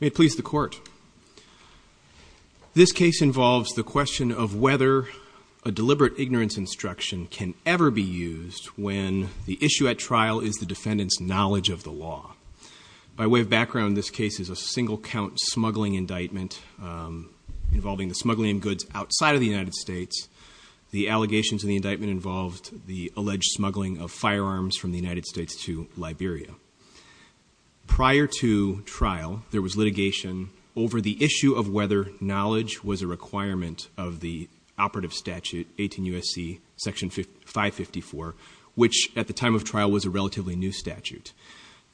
May it please the court. This case involves the question of whether a deliberate ignorance instruction can ever be used when the issue at trial is the defendant's knowledge of the law. By way of background, this case is a single-count smuggling indictment involving the smuggling of goods outside of the United States. The allegations in the indictment involved the alleged smuggling of firearms from the United States to Liberia. Prior to trial, there was litigation over the issue of whether knowledge was a requirement of the operative statute 18 U.S.C. section 554, which at the time of trial was a relatively new statute.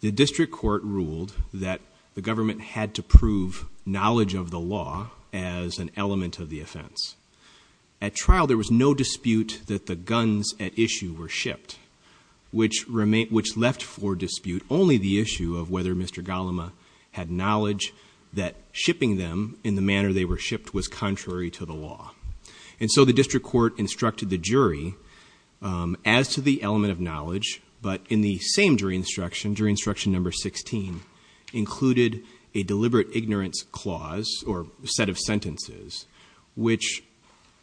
The district court ruled that the government had to prove knowledge of the law as an element of the offense. At trial, there was no dispute that the guns at issue were shipped, which left for dispute only the issue of whether Mr. Galimah had knowledge that shipping them in the manner they were shipped was contrary to the law. And so the district court instructed the jury as to the element of knowledge, but in the same jury instruction, jury instruction number 16, included a deliberate ignorance clause or set of sentences, which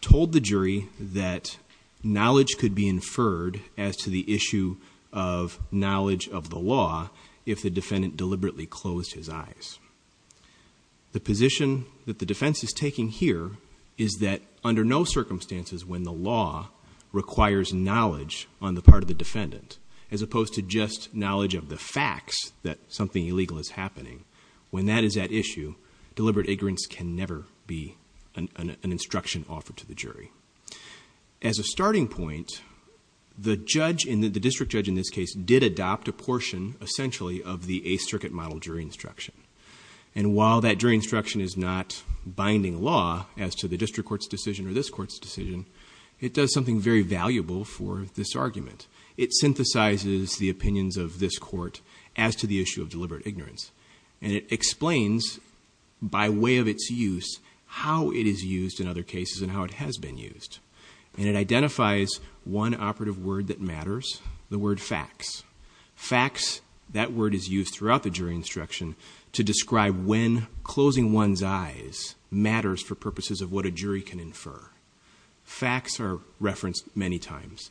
told the jury that knowledge could be inferred as to the issue of knowledge of the law if the defendant deliberately closed his eyes. The position that the defense is taking here is that under no circumstances when the law requires knowledge on the part of the defendant, as opposed to just knowledge of the facts that something illegal is happening, when that is at issue, deliberate ignorance can never be an instruction offered to the jury. As a starting point, the judge, the district judge in this case, did adopt a portion essentially of the eighth circuit model jury instruction. And while that jury instruction is not binding law as to the district court's decision or this court's decision, it does something very valuable for this argument. It synthesizes the opinions of this court as to the issue of deliberate ignorance. And it explains, by way of its use, how it is used in other cases and how it has been used. And it identifies one operative word that matters, the word facts. Facts, that word is used throughout the jury instruction to describe when closing one's eyes matters for purposes of what a jury can infer. Facts are referenced many times.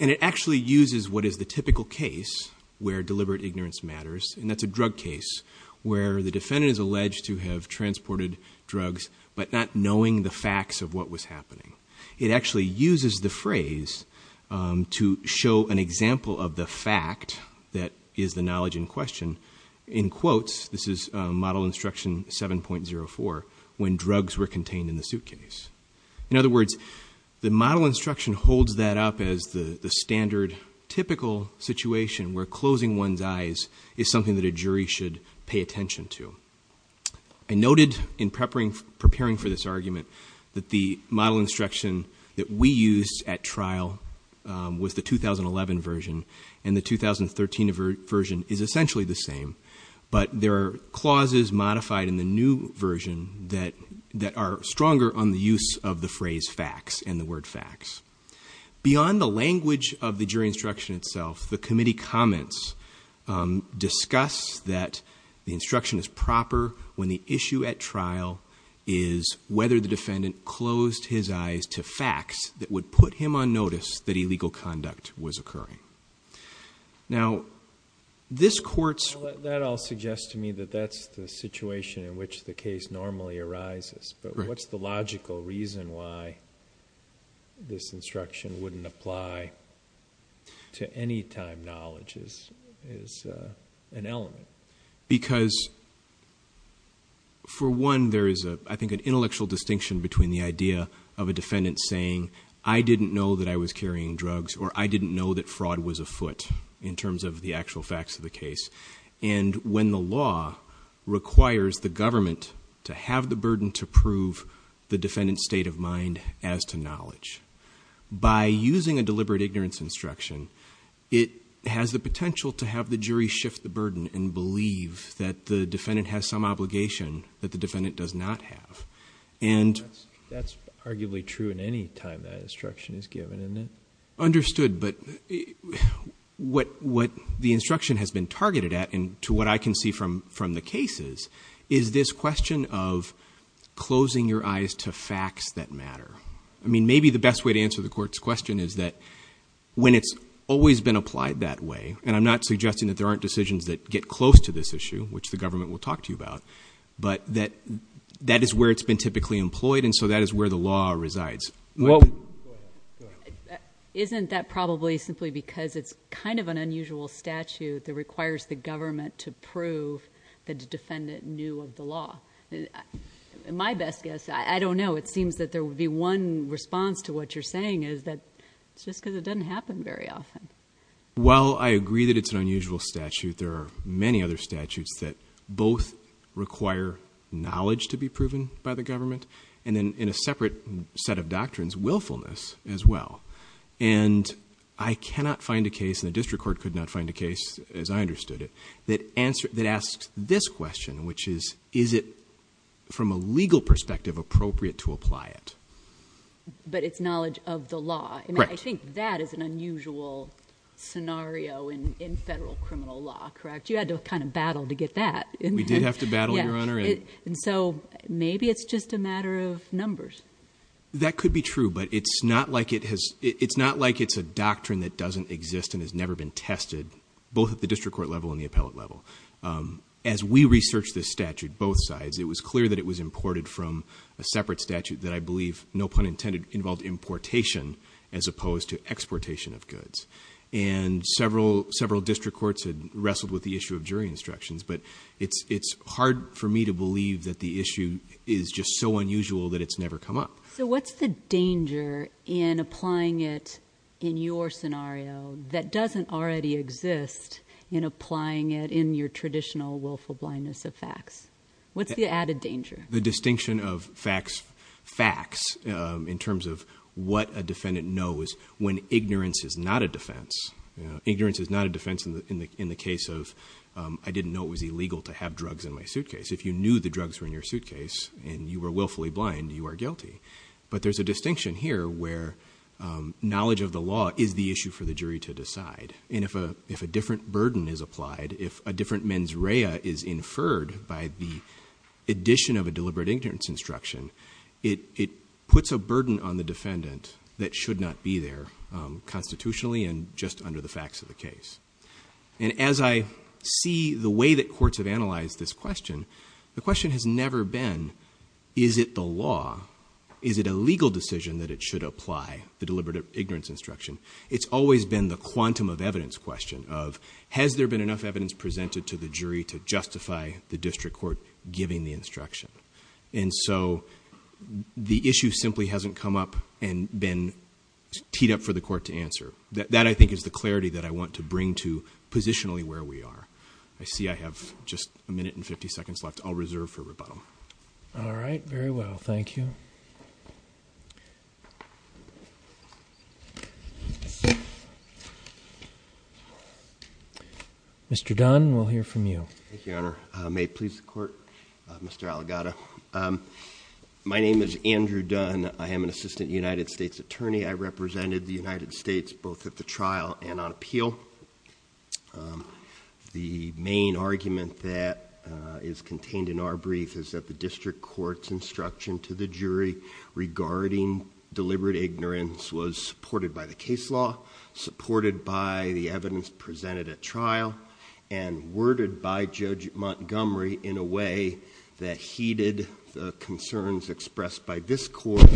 And it actually uses what is the typical case where deliberate ignorance matters, and that's a drug case, where the defendant is alleged to have transported drugs but not knowing the facts of what was happening. It actually uses the phrase to show an example of the fact that is the knowledge in question. In quotes, this is model instruction 7.04, when drugs were contained in the suitcase. In other words, the model instruction holds that up as the standard, typical situation where closing one's eyes is something that a jury should pay attention to. I noted in preparing for this argument that the model instruction that we used at trial was the 2011 version, and the 2013 version is essentially the same, but there are clauses modified in the new version that are stronger on the use of the phrase facts and the word facts. Beyond the language of the jury instruction itself, the committee comments discuss that the instruction is proper when the issue at trial is whether the defendant closed his eyes to facts that would put him on notice that illegal conduct was occurring. Now, this court's... That all suggests to me that that's the situation in which the case normally arises, but what's the logical reason why this instruction wouldn't apply to any time knowledge is an element. Because for one, there is, I think, an intellectual distinction between the idea of a defendant saying, I didn't know that I was carrying drugs, or I didn't know that fraud was afoot in terms of the actual facts of the case, and when the law requires the government to have the burden to prove the defendant's state of mind as to knowledge. By using a deliberate ignorance instruction, it has the potential to have the jury shift the burden and believe that the defendant has some obligation that the defendant does not have. That's arguably true in any time that instruction is given, isn't it? Understood, but what the instruction has been targeted at, and to what I can see from the cases, is this question of closing your eyes to facts that matter. I mean, maybe the best way to answer the court's question is that when it's always been applied that way, and I'm not suggesting that there aren't decisions that get close to this issue, which the government will talk to you about, but that is where it's been typically employed, and so that is where the law resides. Well, isn't that probably simply because it's kind of an unusual statute that requires the government to prove that the defendant knew of the law? My best guess, I don't know, it seems that there would be one response to what you're saying is that it's just because it doesn't happen very often. Well, I agree that it's an unusual statute. There are many other statutes that both require knowledge to be proven by the government, and then in a separate set of doctrines, willfulness as well, and I cannot find a case, and the district court could not find a case, as I understood it, that asks this question, which is, is it, from a legal perspective, appropriate to apply it? But it's knowledge of the law. I mean, I think that is an unusual scenario in federal criminal law, correct? You had to kind of battle to get that. We did have to battle, Your Honor. And so, maybe it's just a matter of numbers. That could be true, but it's not like it has, it's not like it's a doctrine that doesn't exist and has never been tested, both at the district court level and the appellate level. As we researched this statute, both sides, it was clear that it was imported from a separate statute that I believe, no pun intended, involved importation as opposed to exportation of goods, and several district courts had wrestled with the issue of jury instructions, but it's hard for me to believe that the issue is just so unusual that it's never come up. So, what's the danger in applying it in your scenario that doesn't already exist in applying it in your traditional willful blindness of facts? What's the added danger? The distinction of facts in terms of what a defendant knows when ignorance is not a defense. Ignorance is not a defense in the case of, I didn't know it was illegal to have drugs in my suitcase. If you knew the drugs were in your suitcase and you were willfully blind, you are guilty. But there's a distinction here where knowledge of the law is the issue for the jury to decide. And if a different burden is applied, if a different mens rea is inferred by the addition of a deliberate ignorance instruction, it puts a burden on the defendant that should not be there constitutionally and just under the facts of the case. And as I see the way that courts have analyzed this question, the question has never been, is it the law? Is it a legal decision that it should apply, the deliberate ignorance instruction? It's always been the quantum of evidence question of, has there been enough presented to the jury to justify the district court giving the instruction? And so the issue simply hasn't come up and been teed up for the court to answer. That I think is the clarity that I want to bring to positionally where we are. I see I have just a minute and 50 seconds left. I'll reserve for rebuttal. All right. Very well. Thank you. Mr. Dunn, we'll hear from you. Thank you, Your Honor. May it please the court. Mr. Aligata. Um, my name is Andrew Dunn. I am an assistant United States attorney. I represented the United States both at the trial and on appeal. Um, the main argument that, uh, is contained in our brief is that the district court's instruction to the jury regarding deliberate ignorance was supported by the case law, supported by the evidence presented at trial and worded by judge Montgomery in a way that heeded the concerns expressed by this court.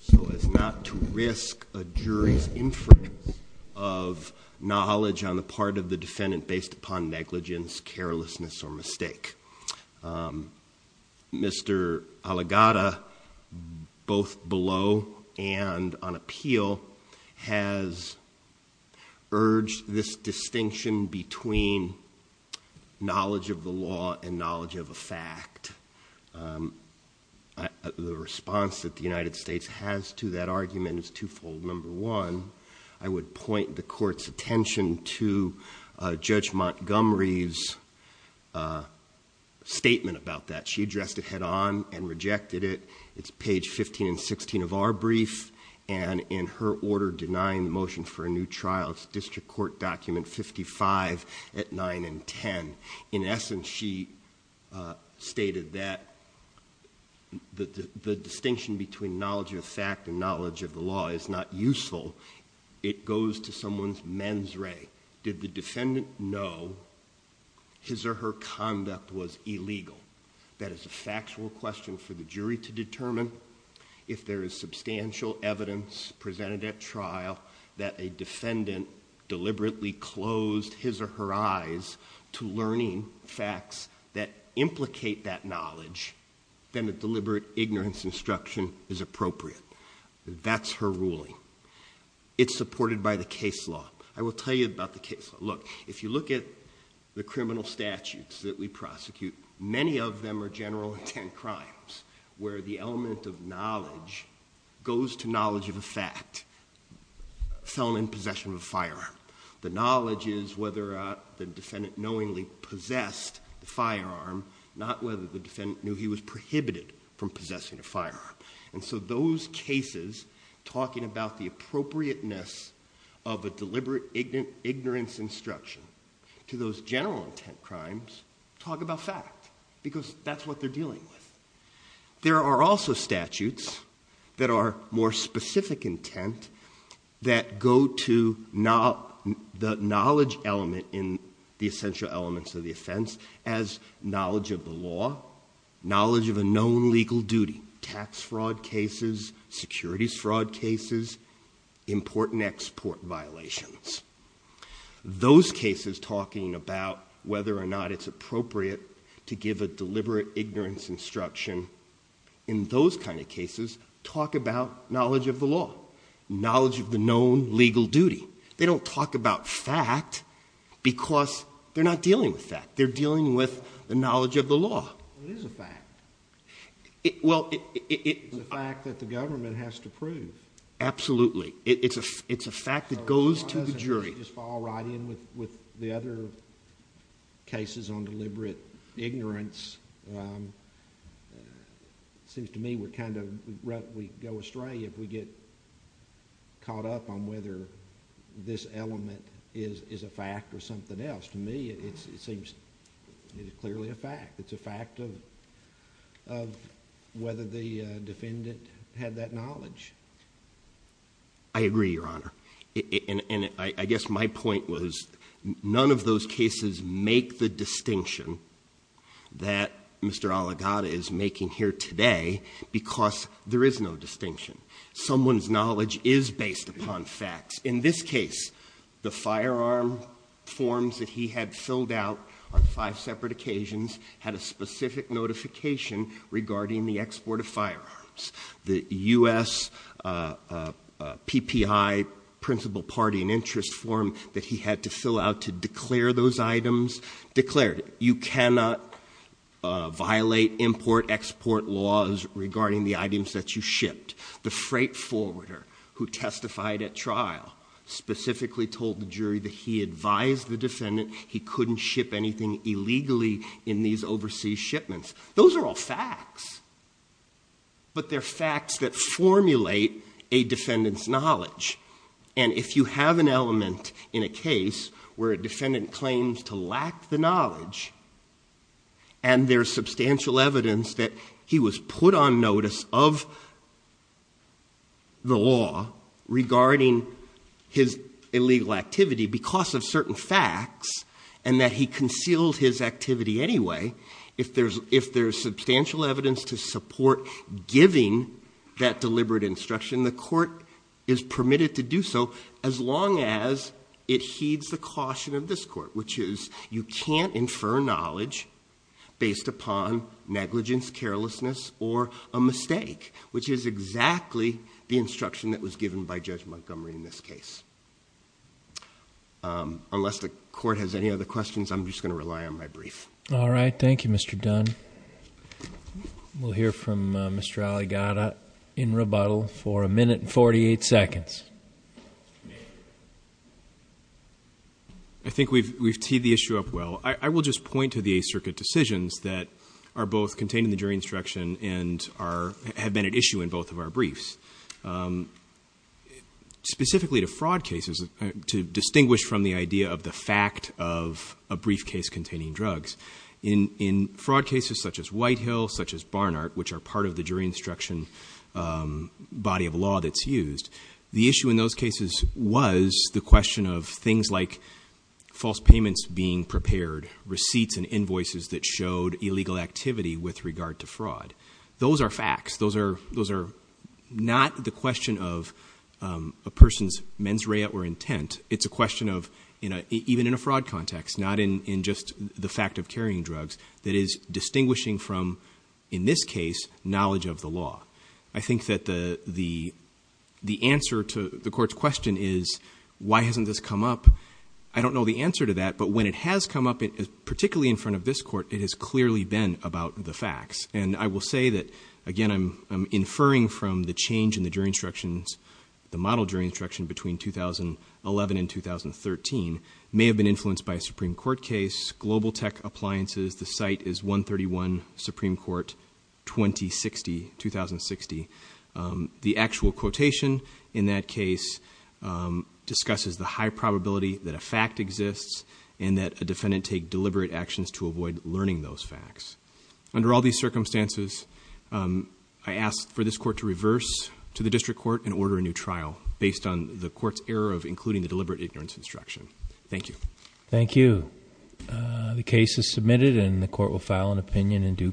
So it's not to risk a jury's inference of knowledge on the part of the defendant based upon negligence, carelessness or mistake. Um, Mr. Aligata, both below and on appeal has urged this distinction between knowledge of the law and knowledge of a fact. Um, the response that the United States has to that argument is twofold. Number one, I would point the court's attention to judge Montgomery's statement about that. She addressed it head on and rejected it. It's page 15 and 16 of our brief and in her order denying the motion for a new trial, it's district court document 55 at 9 and 10. In essence, she stated that the distinction between knowledge of fact and knowledge of the law is not useful. It goes to someone's mens re. Did the defendant know his or her conduct was illegal? That is a factual question for the jury to determine. If there is substantial evidence presented at trial that a defendant deliberately closed his or her eyes to learning facts that implicate that knowledge, then a deliberate ignorance instruction is appropriate. That's her ruling. It's supported by the case law. I will tell you about the case. Look, if you look at the criminal statutes that we prosecute, many of them are general intent crimes where the element of knowledge goes to knowledge of a fact, felon in possession of a firearm. The knowledge is whether the defendant knowingly possessed the firearm, not whether the defendant knew he was prohibited from possessing a firearm. Those cases talking about the appropriateness of a deliberate ignorance instruction to those general intent crimes talk about fact because that's what they're dealing with. There are also statutes that are more specific intent that go to the knowledge element in the essential elements of the offense as knowledge of the law, knowledge of a known legal duty, tax fraud cases, securities fraud cases, important export violations. Those cases talking about whether or not it's appropriate to give a deliberate ignorance instruction in those kind of cases talk about knowledge of the law, knowledge of the known legal duty. They don't talk about fact because they're not dealing with fact. They're dealing with the knowledge of the law. It is a fact. Well, it... It's a fact that the government has to prove. Absolutely. It's a fact that goes to the jury. It doesn't just fall right in with the other cases on deliberate ignorance. It seems to me we're kind of... we go astray if we get caught up on whether this element is a fact or something else. To me, it seems clearly a fact. It's a fact of whether the defendant had that knowledge. I agree, Your Honor. I guess my point was none of those cases make the distinction that Mr. Aligata is making here today because there is no distinction. Someone's knowledge is based upon facts. In this case, the firearm forms that he had filled out on five separate occasions had a specific notification regarding the export of firearms. The U.S. PPI, principal party and interest form that he had to fill out to declare those items, declared it. You cannot violate import-export laws regarding the items that you shipped. The freight forwarder who testified at trial specifically told the jury that he advised the defendant he couldn't ship anything illegally in these overseas shipments. Those are all facts, but they're facts that formulate a defendant's knowledge. If you have an element in a case where a defendant claims to lack the knowledge and there's substantial evidence that he was put on the law regarding his illegal activity because of certain facts and that he concealed his activity anyway, if there's substantial evidence to support giving that deliberate instruction, the court is permitted to do so as long as it heeds the caution of this court, which is you can't infer knowledge based upon negligence, carelessness, or a mistake, which is exactly the instruction that was given by Judge Montgomery in this case. Unless the court has any other questions, I'm just going to rely on my brief. All right. Thank you, Mr. Dunn. We'll hear from Mr. Aligata in rebuttal for a minute and 48 seconds. I think we've teed the issue up well. I will just point to the Eighth Circuit decisions that are both contained in the jury instruction and have been at issue in both of our briefs. Specifically to fraud cases, to distinguish from the idea of the fact of a briefcase containing drugs, in fraud cases such as Whitehill, such as Barnard, which are part of the jury instruction body of law that's used, the issue in those cases was the question of things like false payments being prepared, receipts and invoices that showed illegal activity with regard to fraud. Those are facts. Those are not the question of a person's mens rea or intent. It's a question of, even in a fraud context, not in just the fact of carrying drugs, that is distinguishing from, in this case, knowledge of the law. I think that the answer to the Court's question is, why hasn't this come up? I don't know the answer to that, but when it has come up, particularly in front of this Court, it has clearly been about the facts. And I will say that, again, I'm inferring from the change in the jury instructions, the model jury instruction between 2011 and 2013, may have been influenced by a Supreme Court case, Global Tech Appliances, the site is 131 Supreme Court, 2060. The actual quotation in that case discusses the high probability that a fact exists and that a defendant take deliberate actions to avoid learning those facts. Under all these circumstances, I ask for this Court to reverse to the District Court and order a new trial based on the Court's error of including the court will file an opinion in due course.